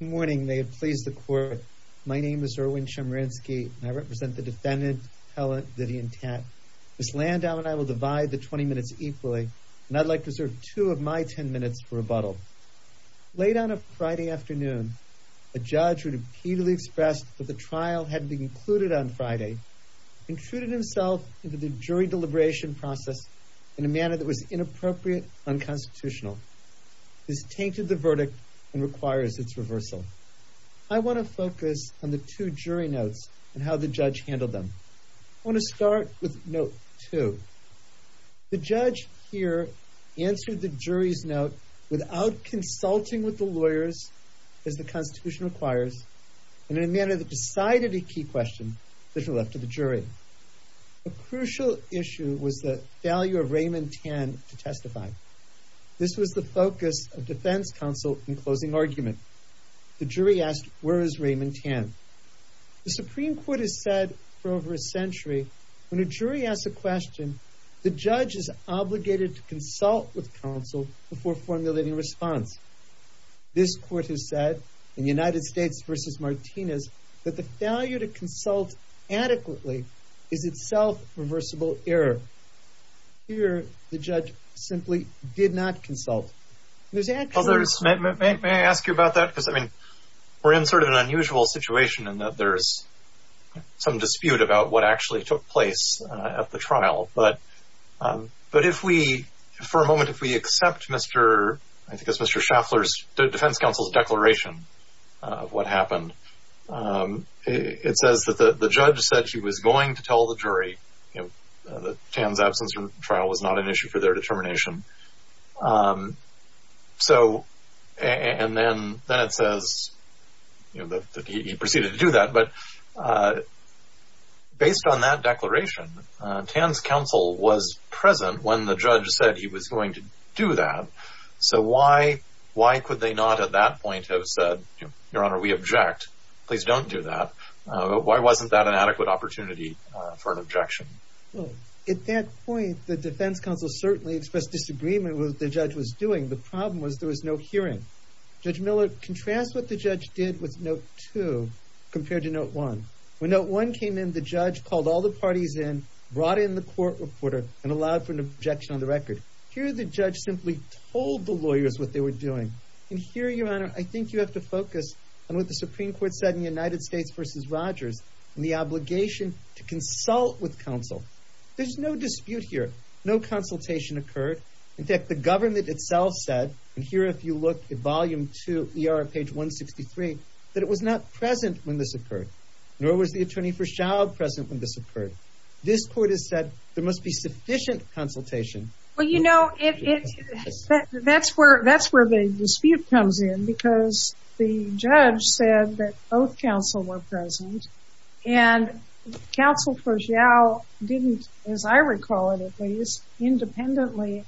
morning they have pleased the court my name is Erwin Chemerinsky I represent the defendant Helen Vivian Tat. Ms. Landau and I will divide the 20 minutes equally and I'd like to serve two of my ten minutes for rebuttal. Late on a Friday afternoon a judge would repeatedly expressed that the trial had been concluded on Friday intruded himself into the jury deliberation process in a manner that was inappropriate unconstitutional. This reversal. I want to focus on the two jury notes and how the judge handled them. I want to start with note two. The judge here answered the jury's note without consulting with the lawyers as the Constitution requires and in a manner that decided a key question to the left of the jury. A crucial issue was the value of Raymond Tan to testify. This was the focus of defense counsel in closing argument. The jury asked where is Raymond Tan. The Supreme Court has said for over a century when a jury asks a question the judge is obligated to consult with counsel before formulating response. This court has said in United States v. Martinez that the failure to consult adequately is itself reversible error. Here the judge simply did not consult. May I ask you about that? Because I mean we're in sort of an unusual situation in that there's some dispute about what actually took place at the trial but but if we for a moment if we accept Mr. I think it's Mr. Schaffler's defense counsel's declaration of what happened it says that the the judge said she was going to that Tan's absence from trial was not an issue for their determination so and then then it says you know that he proceeded to do that but based on that declaration Tan's counsel was present when the judge said he was going to do that so why why could they not at that point have said your honor we object please don't do that why wasn't that an adequate opportunity for an objection? Well at that point the defense counsel certainly expressed disagreement with the judge was doing the problem was there was no hearing. Judge Miller contrast what the judge did with note two compared to note one. When note one came in the judge called all the parties in brought in the court reporter and allowed for an objection on the record. Here the judge simply told the lawyers what they were doing and here your honor I think you have to focus on what the Supreme Court said in the United States versus Rogers and the obligation to consult with counsel. There's no dispute here no consultation occurred in fact the government itself said and here if you look at volume two ER of page 163 that it was not present when this occurred nor was the attorney for shall present when this occurred. This court has said there must be sufficient consultation. Well you know if that's where that's where the dispute comes in because the both counsel were present and counsel for Xiao didn't as I recall it at least independently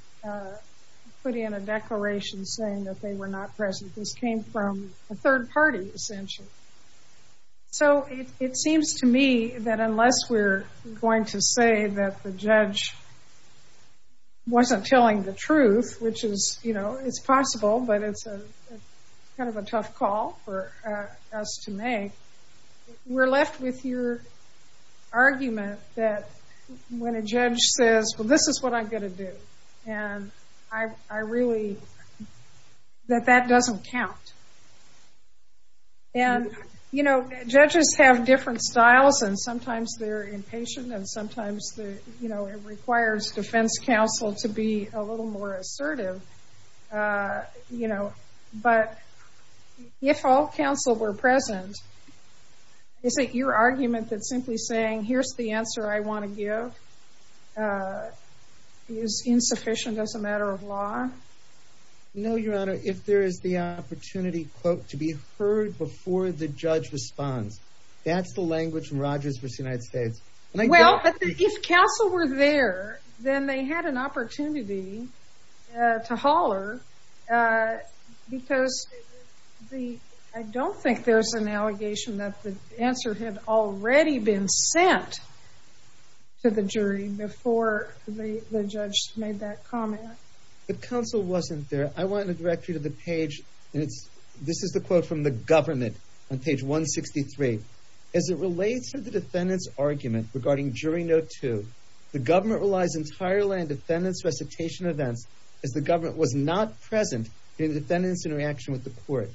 put in a declaration saying that they were not present this came from a third party essentially. So it seems to me that unless we're going to say that the judge wasn't telling the truth which is you know it's possible but it's a kind of a tough call for us to make. We're left with your argument that when a judge says well this is what I'm going to do and I really that that doesn't count and you know judges have different styles and sometimes they're impatient and sometimes the you know it requires defense counsel to be a little more assertive you know but if all counsel were present is it your argument that simply saying here's the answer I want to give is insufficient as a matter of law? No your honor if there is the opportunity quote to be heard before the judge responds that's the language Rogers versus United States. Well if counsel were there then they had an opportunity to holler because the I don't think there's an allegation that the answer had already been sent to the jury before the judge made that comment. The counsel wasn't there I want to direct you to the page and it's this is the quote from the government on page 163 as it relates to the defendants argument regarding jury note to the government relies entirely on defendants recitation events as the government was not present in defendants in reaction with the court.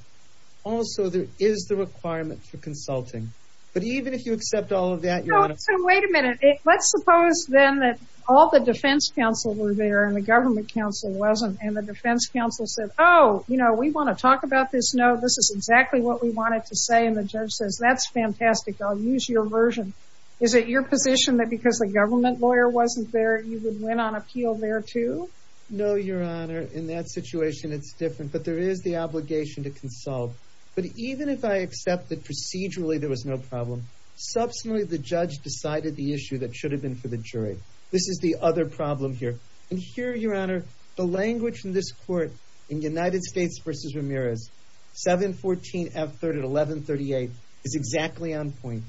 Also there is the requirement for consulting but even if you accept all of that. Wait a minute let's suppose then that all the defense counsel were there and the government counsel wasn't and the defense counsel said oh you know we want to talk about this no this is exactly what we wanted to say and the judge says that's fantastic I'll use your version. Is it your position that because the government lawyer wasn't there you would win on appeal there too? No your honor in that situation it's different but there is the obligation to consult but even if I accept that procedurally there was no problem subsequently the judge decided the issue that should have been for the jury. This is the other problem here and here your honor the language from this court in United States versus Ramirez 714 F 3rd at 1138 is exactly on point.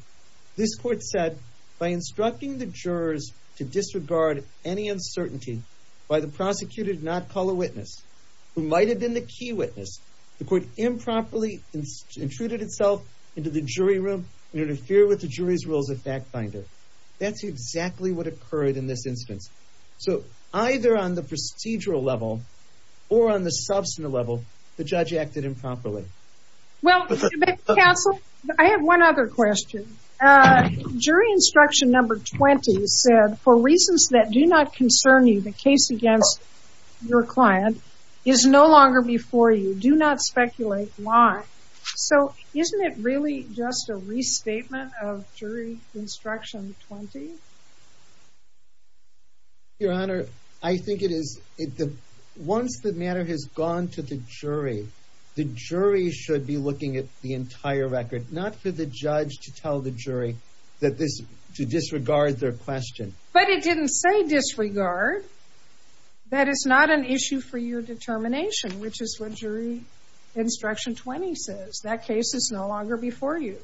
This court said by instructing the jurors to disregard any uncertainty by the prosecutor did not call a witness who might have been the key witness the court improperly intruded itself into the jury room interfere with the jury's rules of fact finder. That's exactly what occurred in this instance. So either on the procedural level or on the substantive level the judge acted improperly. Well counsel I have one other question jury instruction number 20 said for reasons that do not concern you the case against your client is no longer before you do not speculate why so isn't it really just a restatement of jury instruction 20? Your honor I think it is once the matter has gone to the jury the jury should be looking at the entire record not for the judge to tell the jury that this to disregard their question. But it didn't say disregard that is not an issue for your determination which is what jury instruction 20 says that case is no longer before you.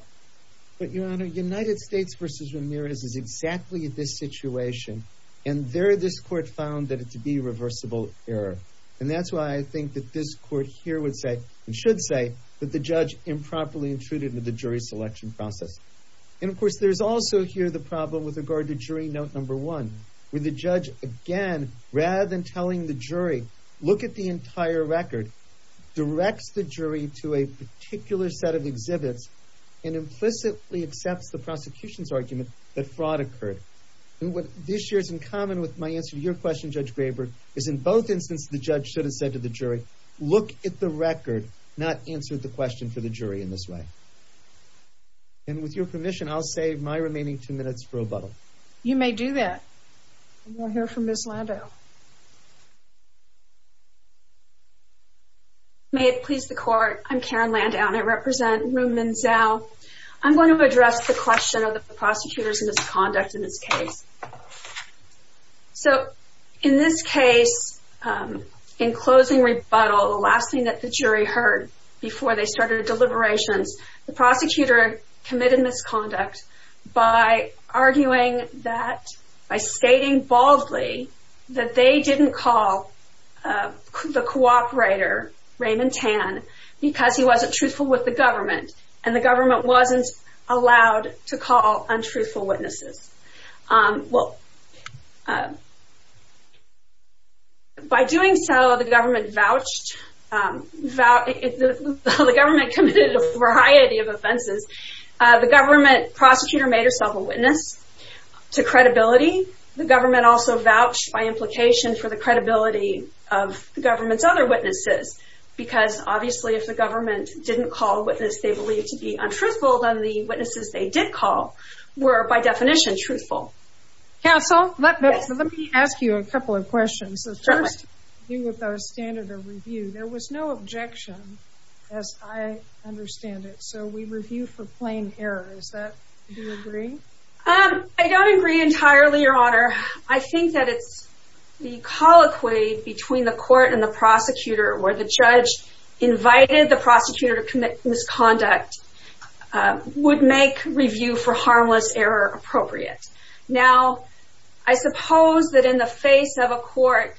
But your honor United States versus Ramirez is exactly this situation and there this court found that it to be reversible error and that's why I think that this court here would say and should say that the judge improperly intruded with the jury selection process. And of course there's also here the problem with regard to jury note number one with the judge again rather than telling the jury look at the entire record directs the jury to a particular set of exhibits and implicitly accepts the prosecution's argument that what this year's in common with my answer to your question Judge Graber is in both instances the judge should have said to the jury look at the record not answer the question for the jury in this way. And with your permission I'll save my remaining two minutes for a bottle. You may do that. We'll hear from Ms. Landau. May it please the court I'm Karen Landau and I represent room Menzel. I'm going to address the question of the prosecutor's misconduct in this case. So in this case in closing rebuttal the last thing that the jury heard before they started deliberations the prosecutor committed misconduct by arguing that by stating baldly that they didn't call the cooperator Raymond Tan because he wasn't truthful with the government and the government wasn't allowed to call untruthful witnesses. Well by doing so the government vouched that the government committed a variety of offenses. The government prosecutor made herself a witness to credibility. The government also vouched by implication for the credibility of the government's other witnesses. Because obviously if the government didn't call a witness they believe to be untruthful than the witnesses they did call were by definition truthful. Counsel let me ask you a couple of questions. The first thing with our standard of review there was no objection as I understand it. So we review for plain error. Is that do you agree? I don't agree entirely your honor. I think that it's the colloquy between the prosecutor or the judge invited the prosecutor to commit misconduct would make review for harmless error appropriate. Now I suppose that in the face of a court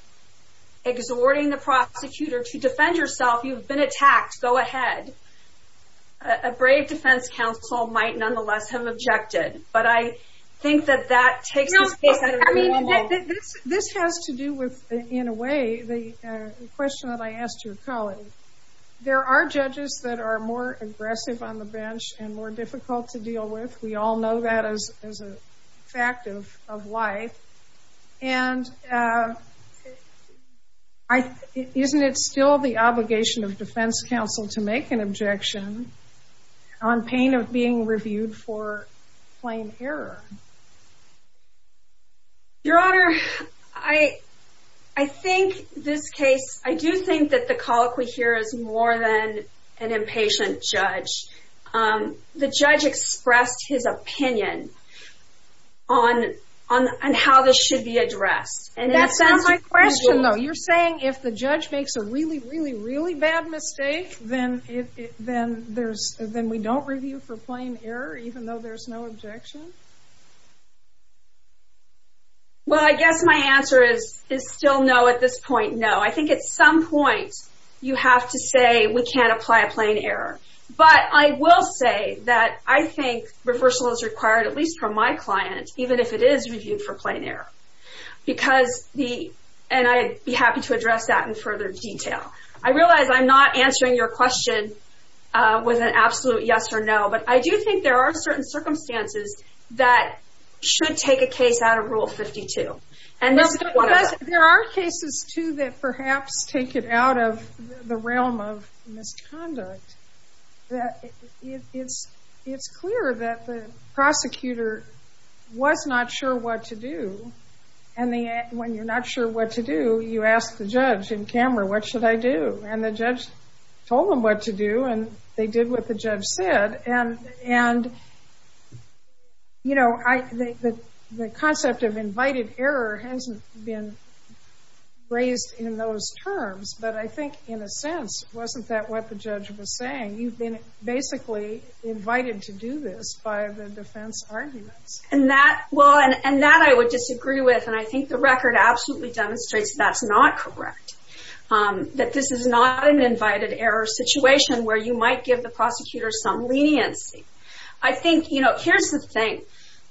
exhorting the prosecutor to defend yourself you've been attacked go ahead. A brave defense counsel might nonetheless have objected. But I think that that takes I mean this has to do with in a way the question that I asked your colleague. There are judges that are more aggressive on the bench and more difficult to deal with. We all know that as as a fact of life. And I isn't it still the obligation of defense counsel to make an objection on pain of being reviewed for plain error? Your honor I I think this case I do think that the colloquy here is more than an impatient judge. The judge expressed his opinion on on on how this should be addressed. And that sounds like a question though you're saying if the judge makes a really really really bad mistake then it then there's then we don't review for plain error even though there's no objection? Well I guess my answer is is still no at this point no. I think at some point you have to say we can't apply a plain error. But I will say that I think reversal is required at least from my client even if it is reviewed for plain error. Because the and I'd be happy to address that in further detail. I realize I'm not answering your question with an absolute yes or no. But I do think there are certain circumstances that should take a case out of rule 52. And there are cases too that perhaps take it out of the realm of misconduct. That it's it's clear that the prosecutor was not sure what to do. And the when you're not sure what to do you ask the judge in camera what should I do? And the judge told him what to do and they did what the judge said. And and you know I think that the concept of invited error hasn't been raised in those terms. But I think in a sense wasn't that what the judge was saying? You've been basically invited to do this by the defense arguments. And that well and that I would disagree with and I think the record absolutely demonstrates that's not correct. That this is not an invited error situation where you might give the prosecutor some leniency. I think you know here's the thing.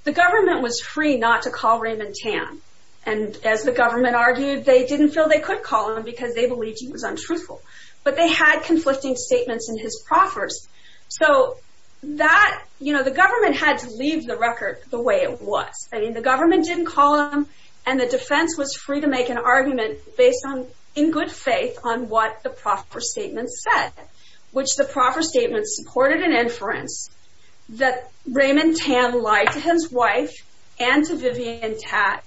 The government was free not to call Raymond Tan. And as the government argued they didn't feel they could call him because they believed he was untruthful. But they had conflicting statements in his proffers. So that you know the government had to leave the way it was. I mean the government didn't call him and the defense was free to make an argument based on in good faith on what the proffer statement said. Which the proffer statement supported an inference that Raymond Tan lied to his wife and to Vivian Tat.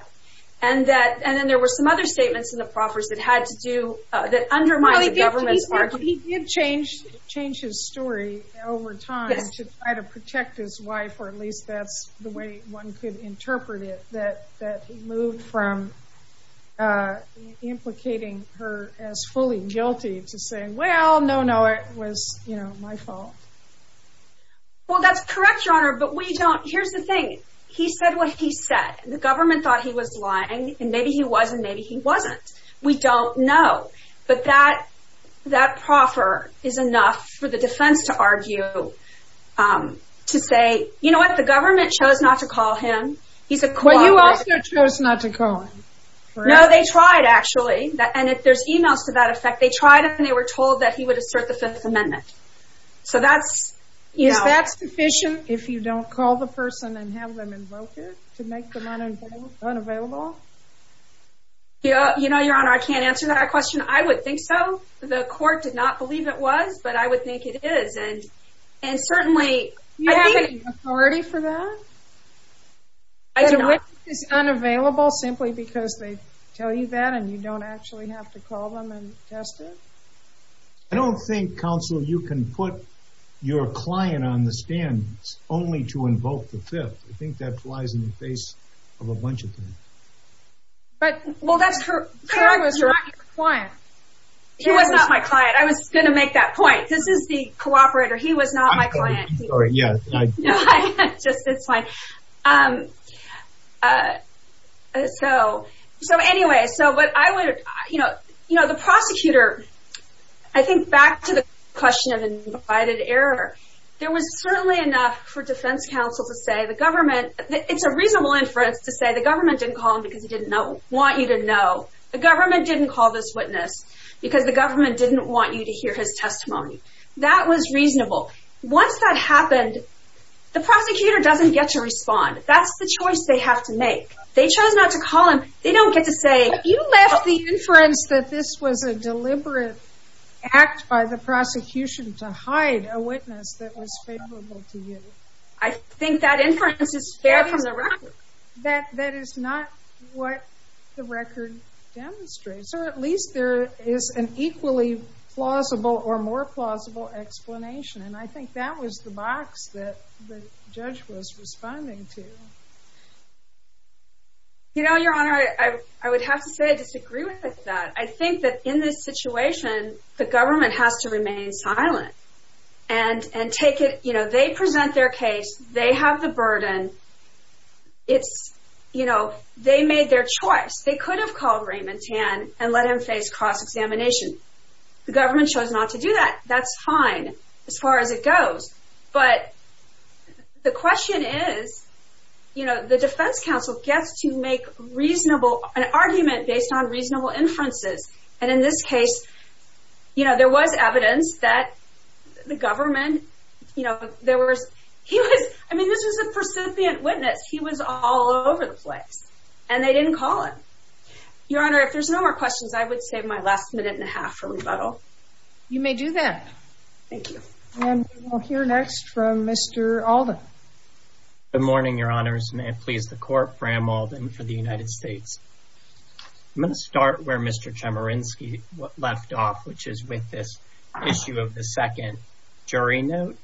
And that and then there were some other statements in the proffers that had to do that undermine the government's argument. He did change change his story over time to try to protect his wife or at least that's the way one could interpret it. That that moved from implicating her as fully guilty to saying well no no it was you know my fault. Well that's correct your honor but we don't here's the thing. He said what he said. The government thought he was lying and maybe he was and maybe he wasn't. We don't know. But that that proffer is enough for the defense to argue to say you know what the government chose not to call him. He's a. Well you also chose not to call him. No they tried actually. And if there's emails to that effect they tried it and they were told that he would assert the Fifth Amendment. So that's. Is that sufficient if you don't call the person and have them invoke it? To make them unavailable? Yeah you know your honor I can't answer that question. I would think so. The court did not believe it was but I would think it is. And and certainly. You have an authority for that? I don't know. It's unavailable simply because they tell you that and you don't actually have to call them and test it? I don't think counsel you can put your client on the stand only to invoke the Fifth. I think that flies in the face of a bunch of things. But well that's her client. He was not my client. I was gonna make that point. This is the cooperator. He was not my client. So so anyway so but I would you know you know the prosecutor I think back to the question of invited error. There was certainly enough for defense counsel to say the government. It's a reasonable inference to say the government didn't call him because he didn't know want you to know. The government didn't call this witness because the government didn't want you to hear his testimony. That was reasonable. Once that happened the prosecutor doesn't get to respond. That's the choice they have to make. They chose not to call him. They don't get to say. You left the inference that this was a deliberate act by the prosecution to hide a witness that was favorable to you. I think that inference is fair from the record. That is not what the record demonstrates or at least there is an equally plausible or more plausible explanation and I think that was the box that the judge was responding to. You know your honor I would have to say I disagree with that. I think that in this situation the government has to remain silent and and take it you know they present their case. They have the burden. It's you know they made their choice. They could have called Raymond Tan and let him face cross-examination. The government chose not to do that. That's fine as far as it goes but the question is you know the defense counsel gets to make reasonable an argument based on reasonable inferences and in this case you know there was evidence that the government you know there was he was I mean this was a percipient witness. He was all over the place and they didn't call him. Your honor if there's no more questions I would save my last minute and a half for rebuttal. You may do that. Thank you. And we'll hear next from Mr. Alden. Good morning your honors. May it please the court. Bram Alden for the United States. I'm going to start where Mr. Chemerinsky left off which is with this issue of the second jury note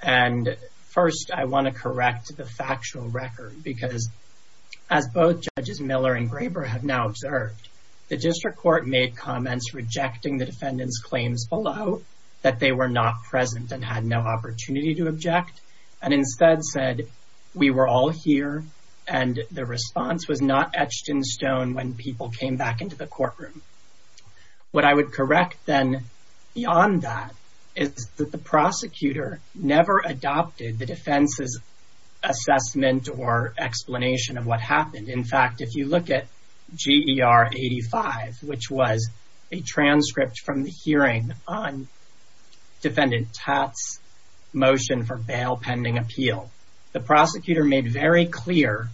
and first I want to correct the factual record because as both judges Miller and Graber have now observed the district court made comments rejecting the defendants claims below that they were not present and had no opportunity to object and instead said we were all here and the response was not etched in stone when people came back into the courtroom. What I would correct then beyond that is that the prosecutor never adopted the defense's assessment or explanation of what happened. In fact if you look at GER 85 which was a transcript from the hearing on defendant Tatt's motion for bail pending appeal the prosecutor made very clear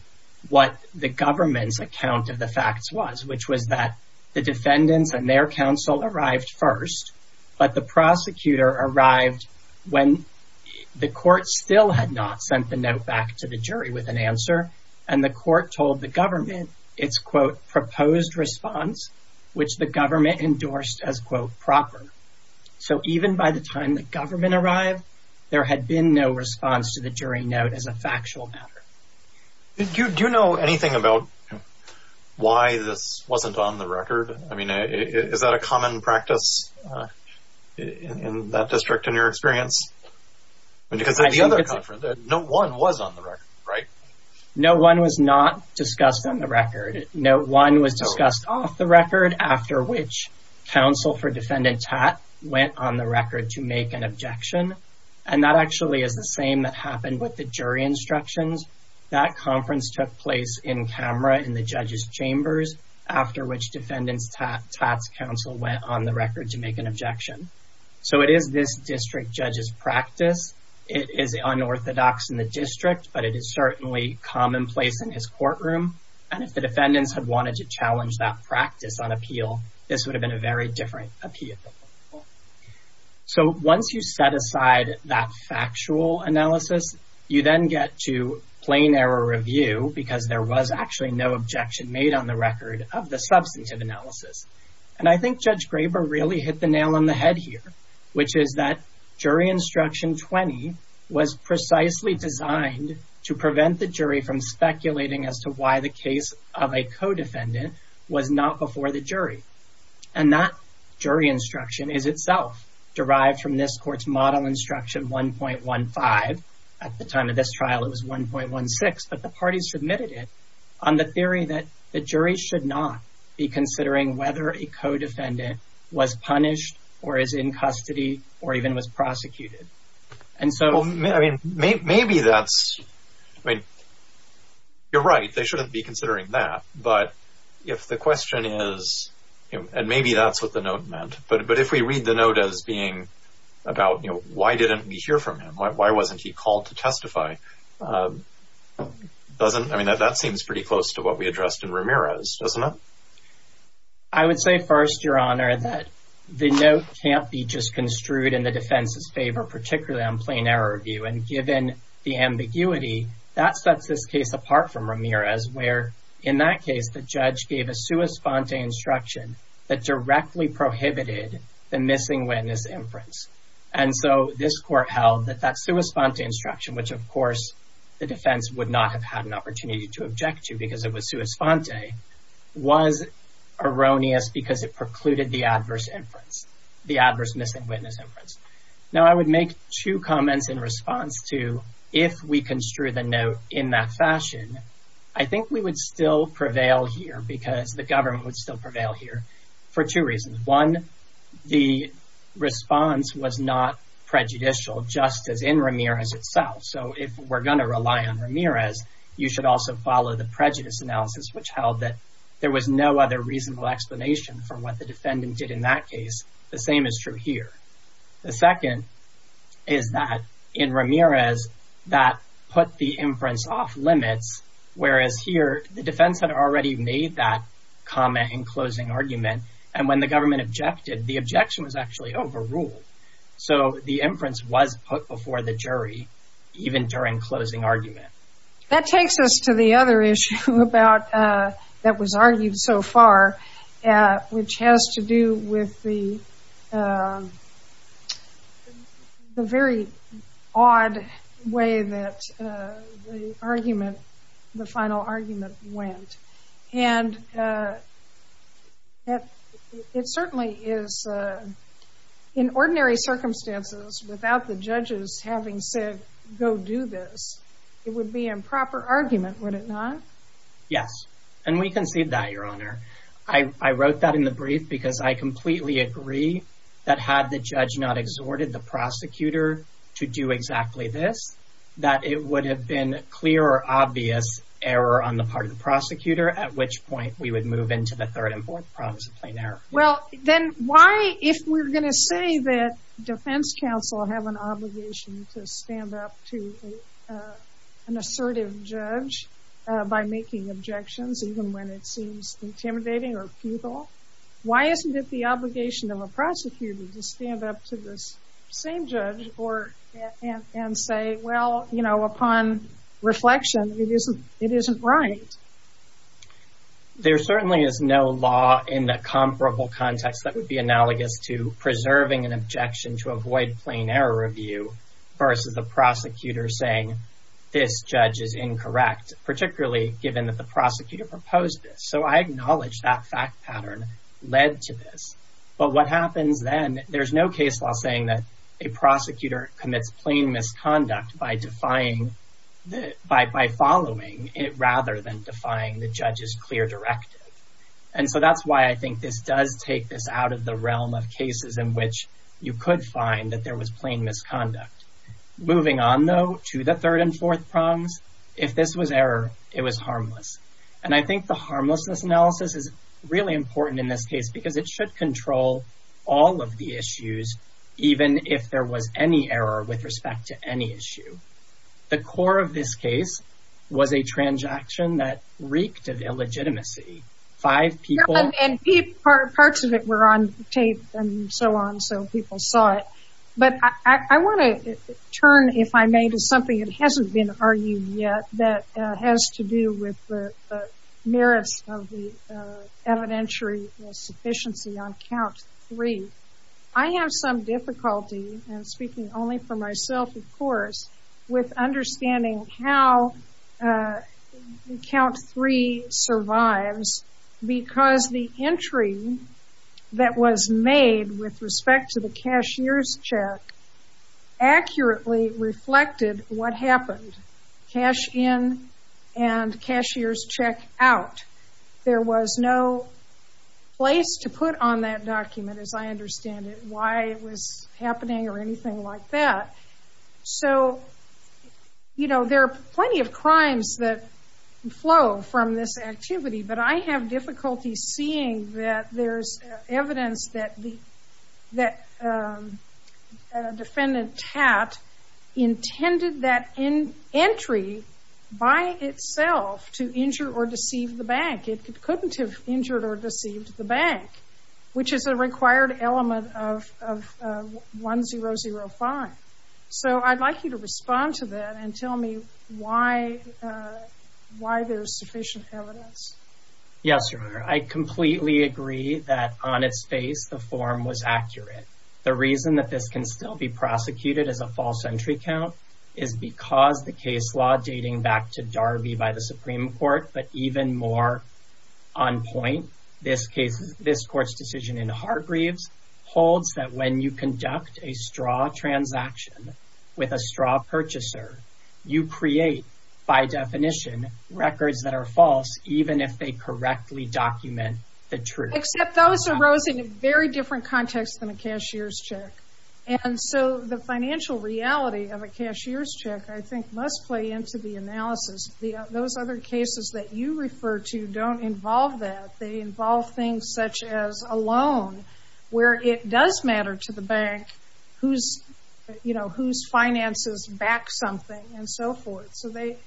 what the government's account of the facts was which was that the when the court still had not sent the note back to the jury with an answer and the court told the government it's quote proposed response which the government endorsed as quote proper. So even by the time the government arrived there had been no response to the jury note as a factual matter. Do you know anything about why this wasn't on the record? I mean is that a common practice in that experience? No one was on the record right? No one was not discussed on the record. No one was discussed off the record after which counsel for defendant Tatt went on the record to make an objection and that actually is the same that happened with the jury instructions. That conference took place in camera in the judges chambers after which defendants Tatt's counsel went on the judge's practice. It is unorthodox in the district but it is certainly commonplace in his courtroom and if the defendants have wanted to challenge that practice on appeal this would have been a very different appeal. So once you set aside that factual analysis you then get to plain error review because there was actually no objection made on the record of the substantive analysis and I think Judge Graber really hit the nail on the head here which is that jury instruction 20 was precisely designed to prevent the jury from speculating as to why the case of a co-defendant was not before the jury and that jury instruction is itself derived from this court's model instruction 1.15. At the time of this trial it was 1.16 but the parties submitted it on the theory that the jury should not be considering whether a co-defendant was punished or is in custody or even was prosecuted and so I mean maybe that's I mean you're right they shouldn't be considering that but if the question is and maybe that's what the note meant but but if we read the note as being about you know why didn't we hear from him why wasn't he called to testify doesn't I mean that that seems pretty close to what we addressed in Ramirez doesn't it? I would say first your honor that the note can't be just construed in the defense's favor particularly on plain error review and given the ambiguity that sets this case apart from Ramirez where in that case the judge gave a sua sponte instruction that directly prohibited the missing witness inference and so this court held that that sua sponte instruction which of course the defense would not have had an opportunity to object to because it was sua sponte was erroneous because it precluded the adverse inference the adverse missing witness inference now I would make two comments in response to if we construe the note in that fashion I think we would still prevail here because the government would still prevail here for two reasons one the response was not prejudicial just as in Ramirez you should also follow the prejudice analysis which held that there was no other reasonable explanation for what the defendant did in that case the same is true here the second is that in Ramirez that put the inference off limits whereas here the defense had already made that comment in closing argument and when the government objected the objection was actually overruled so the inference was put before the jury even during closing argument that takes us to the other issue about that was argued so far which has to do with the very odd way that argument the final argument went and it certainly is in ordinary circumstances without the judges having said go do this it would be improper argument would it not yes and we can see that your honor I wrote that in the brief because I completely agree that had the judge not exhorted the prosecutor to do exactly this that it would have been clear or obvious error on the part of the prosecutor at which point we would move into the third and fourth promise of plain error well then why if we're defense counsel have an obligation to stand up to an assertive judge by making objections even when it seems intimidating or futile why isn't it the obligation of a prosecutor to stand up to this same judge or and say well you know upon reflection it isn't it isn't right there certainly is no law in the comparable context that would be analogous to preserving an objection to avoid plain error review versus the prosecutor saying this judge is incorrect particularly given that the prosecutor proposed so I acknowledge that fact pattern led to this but what happens then there's no case while saying that a prosecutor commits plain misconduct by defying by following it that's why I think this does take this out of the realm of cases in which you could find that there was plain misconduct moving on though to the third and fourth prongs if this was error it was harmless and I think the harmlessness analysis is really important in this case because it should control all of the issues even if there was any error with respect to any issue the core of this case was a transaction that reeked of illegitimacy five people parts of it were on tape and so on so people saw it but I want to turn if I made is something it hasn't been argued yet that has to do with the merits of the evidentiary sufficiency on count three I have some difficulty and speaking only for myself of course with understanding how count three survives because the entry that was made with respect to the cashier's check accurately reflected what happened cash in and cashier's check out there was no place to put on that document as I understand it why it was happening or anything like that so you know there are plenty of crimes that flow from this activity but I have difficulty seeing that there's evidence that the that defendant tat intended that in entry by itself to injure or deceive the bank it could couldn't have injured or deceived the bank which is a required element of one zero zero five so I'd like you to respond to that and tell me why why there's sufficient evidence yes sir I completely agree that on its face the form was accurate the reason that this can still be prosecuted as a false entry count is because the case law dating back to Darby by the Supreme Court but even more on point this case this court's decision in Hargreaves holds that when you conduct a straw transaction with a straw purchaser you create by definition records that are false even if they correctly document the truth very different context than a cashier's check and so the financial reality of a cashier's check I think must play into the analysis those other cases that you refer to don't involve that they involve things such as a loan where it does matter to the bank whose you know whose finances back something and so forth so they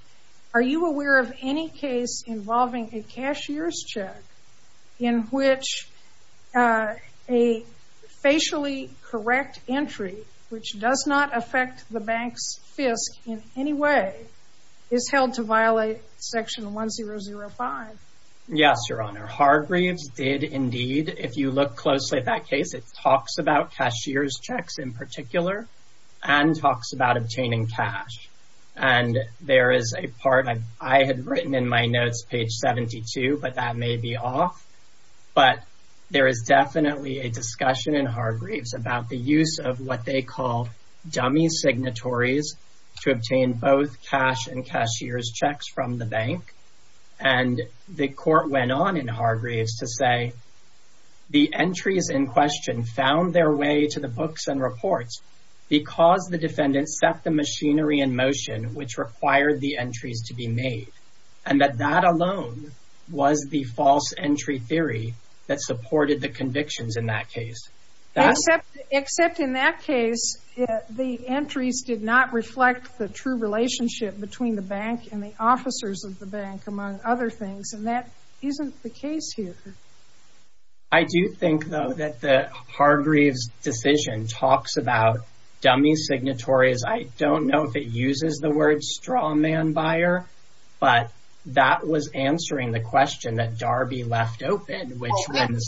are you aware of any case involving a cashier's check in which a facially correct entry which does not affect the bank's fisc in any way is held to violate section one zero zero five yes your honor Hargreaves did indeed if you look closely at that case it talks about cashier's checks in particular and talks about obtaining cash and there is a part I had written in my notes page 72 but that may be off but there is definitely a discussion in Hargreaves about the use of what they call dummy signatories to obtain both cash and cashier's checks from the bank and the court went on in Hargreaves to say the entries in question found their way to the books and reports because the defendant set the machinery in motion which required the entries to be made and that that alone was the false entry theory that supported the convictions in that case except in that case the entries did not reflect the true relationship between the bank and the officers of the bank among other things and that isn't the case here I do think though that the Hargreaves decision talks about dummy signatories I don't know if it uses the word straw man buyer but that was answering the question that Darby left open which means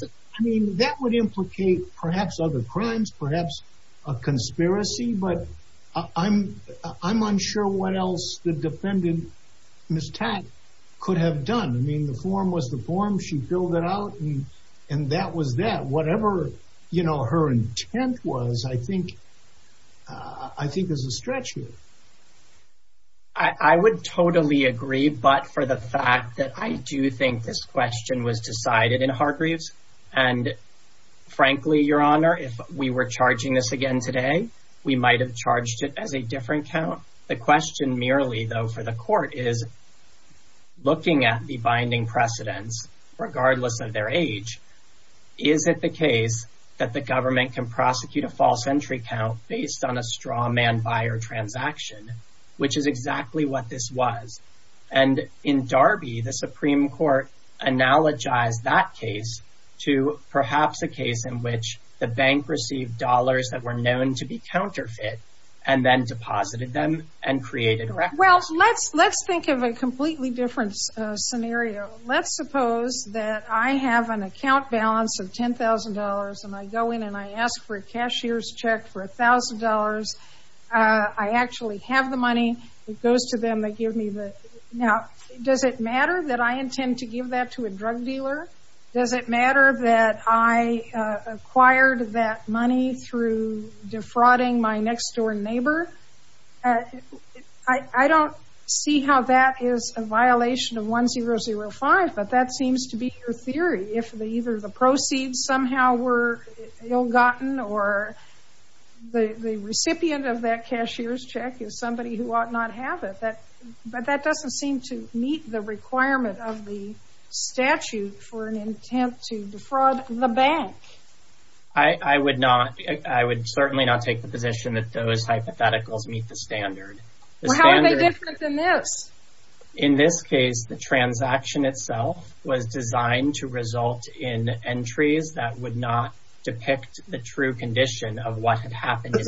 that would implicate perhaps other crimes perhaps a conspiracy but I'm I'm unsure what else the defendant Miss Tack could have done I mean the form was the form she filled it out and and that was that whatever you know her intent was I think I think there's a stretch here I would totally agree but for the fact that I do think this question was decided in Hargreaves and frankly your honor if we were charging this again today we might have charged it as a different count the question merely though for the court is looking at the binding precedents regardless of their age is it the case that the government can prosecute a false entry count based on a straw man buyer transaction which is exactly what this was and in Darby the Supreme Court analogize that case to perhaps a case in which the bank received dollars that were known to be counterfeit and then created well let's let's think of a completely different scenario let's suppose that I have an account balance of $10,000 and I go in and I ask for a cashier's check for $1,000 I actually have the money it goes to them they give me the now does it matter that I intend to give that to a drug dealer does it matter that I acquired that money through defrauding my next-door neighbor I I don't see how that is a violation of one zero zero five but that seems to be your theory if they either the proceeds somehow were ill-gotten or the recipient of that cashier's check is somebody who ought not have it that but that doesn't seem to meet the requirement of the statute for an attempt to defraud the bank I I would not I would certainly not take the hypotheticals meet the standard in this case the transaction itself was designed to result in entries that would not depict the true condition of what had happened I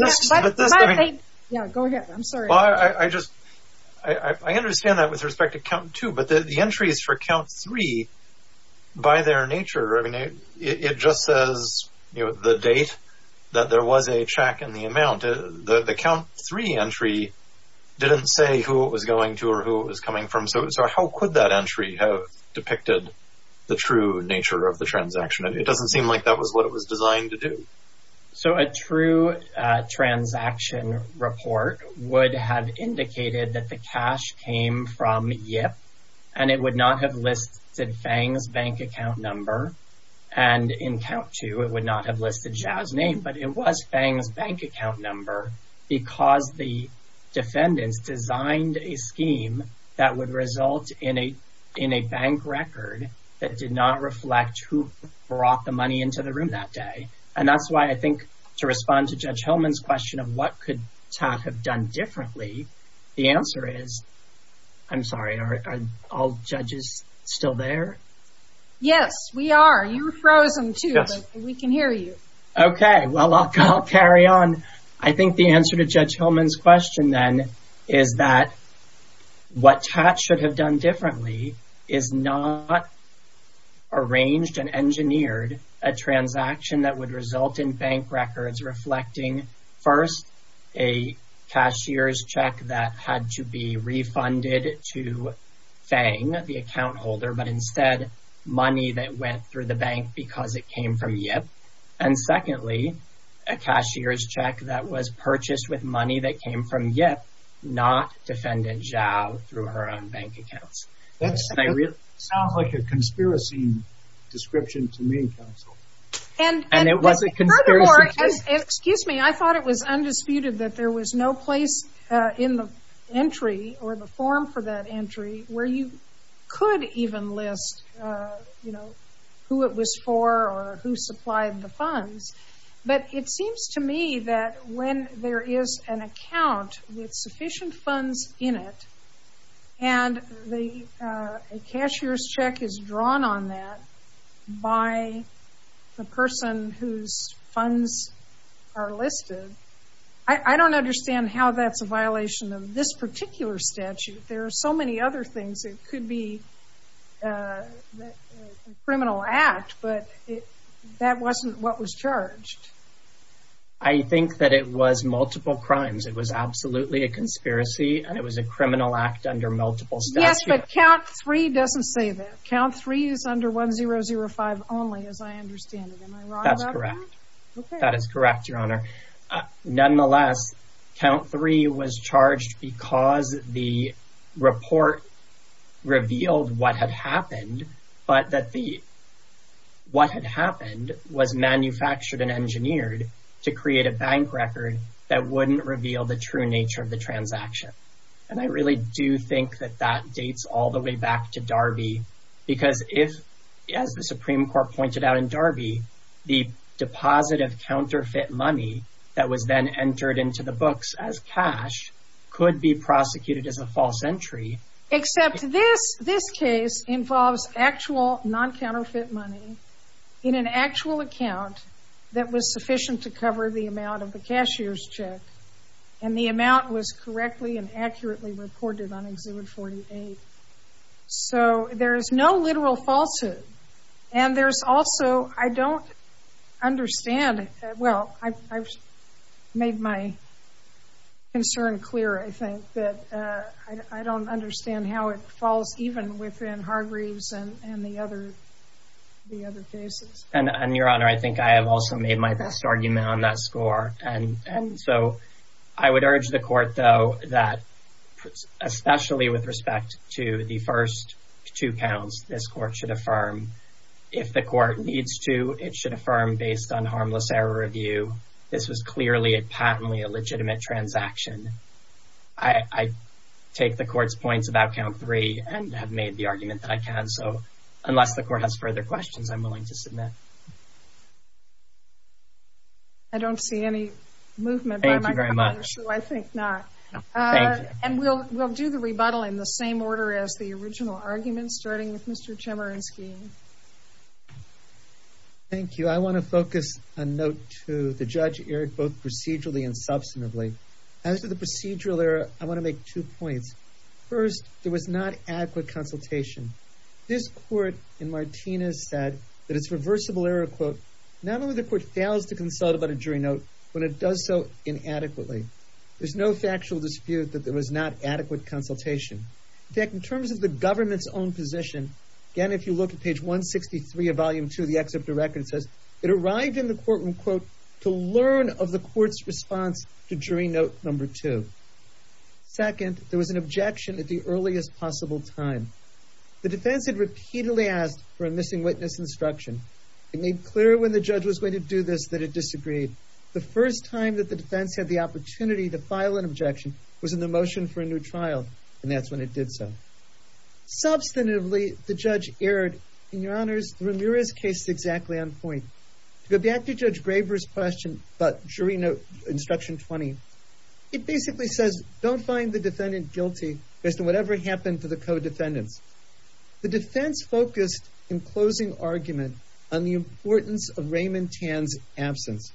just I understand that with respect to count two but the entries for count three by their nature I mean it just says you know the date that there was a check in the amount of the count three entry didn't say who was going to or who was coming from so how could that entry have depicted the true nature of the transaction it doesn't seem like that was what it was designed to do so a true transaction report would have indicated that the cash came from yep and it would not have listed Fang's bank account number and in count to it would not have listed Chow's name but it was Fang's bank account number because the defendants designed a scheme that would result in a in a bank record that did not reflect who brought the money into the room that day and that's why I think to respond to Judge Hillman's question of what could have done differently the answer is I'm sorry are all judges still there yes we are you're frozen to us we can hear you okay well I'll carry on I think the answer to Judge Hillman's question then is that what TAT should have done differently is not arranged and engineered a transaction that would result in bank records reflecting first a cashier's check that had to be refunded to Fang the account holder but money that went through the bank because it came from yep and secondly a cashier's check that was purchased with money that came from yet not defended Chow through her own bank accounts that sounds like a conspiracy description to me and and it was a conspiracy excuse me I thought it was undisputed that there was no place in the entry or the form for that entry where you could even list you know who it was for or who supplied the funds but it seems to me that when there is an account with sufficient funds in it and the cashier's check is drawn on that by the person whose funds are listed I I don't understand how that's a violation of this particular statute there are so many other things it could be criminal act but it that wasn't what was charged I think that it was multiple crimes it was absolutely a conspiracy and it was a criminal act under multiple stats but three doesn't say that count three is under one zero zero five only as I understand that's correct that is correct your honor nonetheless count three was charged because the report revealed what had happened but that the what had happened was manufactured and engineered to create a bank record that wouldn't reveal the true nature of the transaction and I really do think that that dates all the way back to Darby because if as the Supreme Court pointed out in Darby the deposit of counterfeit money that was then entered into the books as cash could be prosecuted as a false entry except this this case involves actual non-counterfeit money in an actual account that was sufficient to cover the amount of the cashier's check and the amount was correctly and so there is no literal falsehood and there's also I don't understand well I've made my concern clear I think that I don't understand how it falls even within Hargreaves and and the other the other cases and your honor I think I have also made my best argument on that score and and so I would urge the court though that especially with respect to the first two counts this court should affirm if the court needs to it should affirm based on harmless error review this was clearly a patently a legitimate transaction I take the court's points about count three and have made the argument that I can so unless the court has further questions I'm willing to submit I don't see any movement very much I think not and we'll do the rebuttal in the same order as the original argument starting with mr. Chemerinsky thank you I want to focus a note to the judge Eric both procedurally and substantively as to the procedural error I want to make two points first there was not adequate consultation this court in Martinez said that it's reversible error quote not only the there's no factual dispute that there was not adequate consultation tech in terms of the government's own position again if you look at page 163 of volume 2 the excerpt the record says it arrived in the courtroom quote to learn of the court's response to jury note number two second there was an objection at the earliest possible time the defense had repeatedly asked for a missing witness instruction it made clear when the judge was going to do this that it disagreed the first time that the defense had the opportunity to file an objection was in the motion for a new trial and that's when it did so substantively the judge erred in your honors Ramirez case exactly on point to go back to judge Graber's question but jury note instruction 20 it basically says don't find the defendant guilty based on whatever happened to the co-defendants the defense focused in closing argument on the importance of Raymond Tann's absence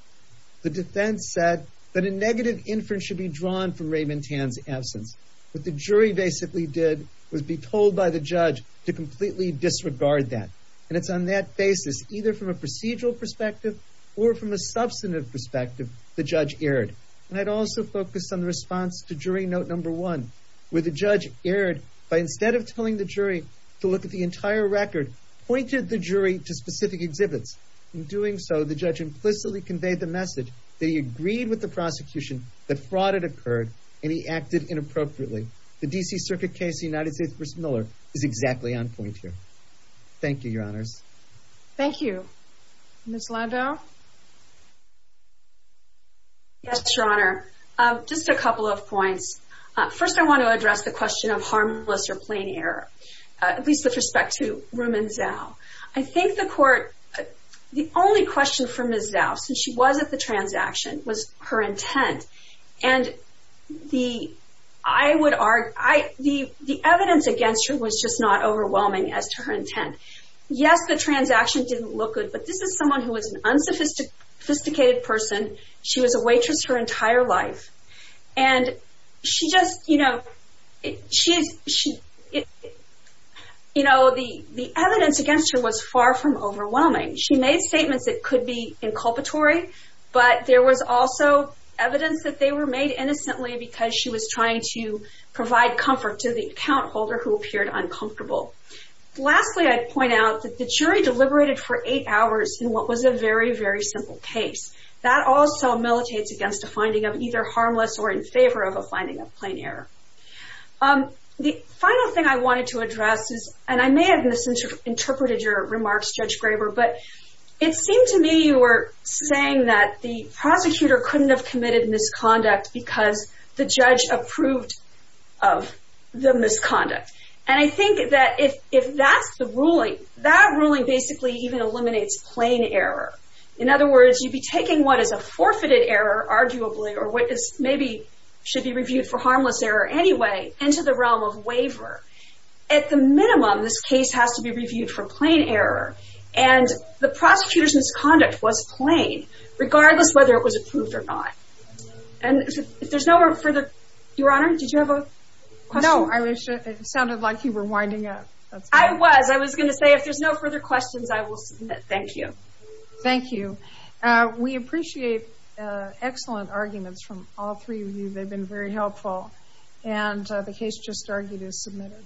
the defense said that a negative inference should be drawn from Raymond Tann's absence but the jury basically did was be told by the judge to completely disregard that and it's on that basis either from a procedural perspective or from a substantive perspective the judge erred and I'd also focus on the response to jury note number one where the judge erred by instead of telling the jury to look at the entire record pointed the jury to convey the message that he agreed with the prosecution that fraud had occurred and he acted inappropriately the DC Circuit case the United States Miller is exactly on point here thank you your honors thank you miss Lando yes your honor just a couple of points first I want to address the question of harmless or plain error at least with respect to Romans now I think the court the only question from his house and she was at the transaction was her intent and the I would argue the the evidence against her was just not overwhelming as to her intent yes the transaction didn't look good but this is someone who was an unsophisticated person she was a waitress her entire life and she just you know she's she you know the the evidence against her was far from overwhelming she made statements that could be inculpatory but there was also evidence that they were made innocently because she was trying to provide comfort to the account holder who appeared uncomfortable lastly I point out that the jury deliberated for eight hours in what was a very very simple case that also militates against a finding of either harmless or in favor of a finding of plain error the final thing I wanted to but it seemed to me you were saying that the prosecutor couldn't have committed misconduct because the judge approved of the misconduct and I think that if if that's the ruling that ruling basically even eliminates plain error in other words you'd be taking what is a forfeited error arguably or what is maybe should be reviewed for harmless error anyway into the realm of waiver at the minimum this case has to be reviewed for plain error and the prosecutors misconduct was plain regardless whether it was approved or not and if there's no further your honor did you have a no I wish it sounded like you were winding up I was I was gonna say if there's no further questions I will submit thank you thank you we appreciate excellent arguments from all you they've been very helpful and the case just argued is submitted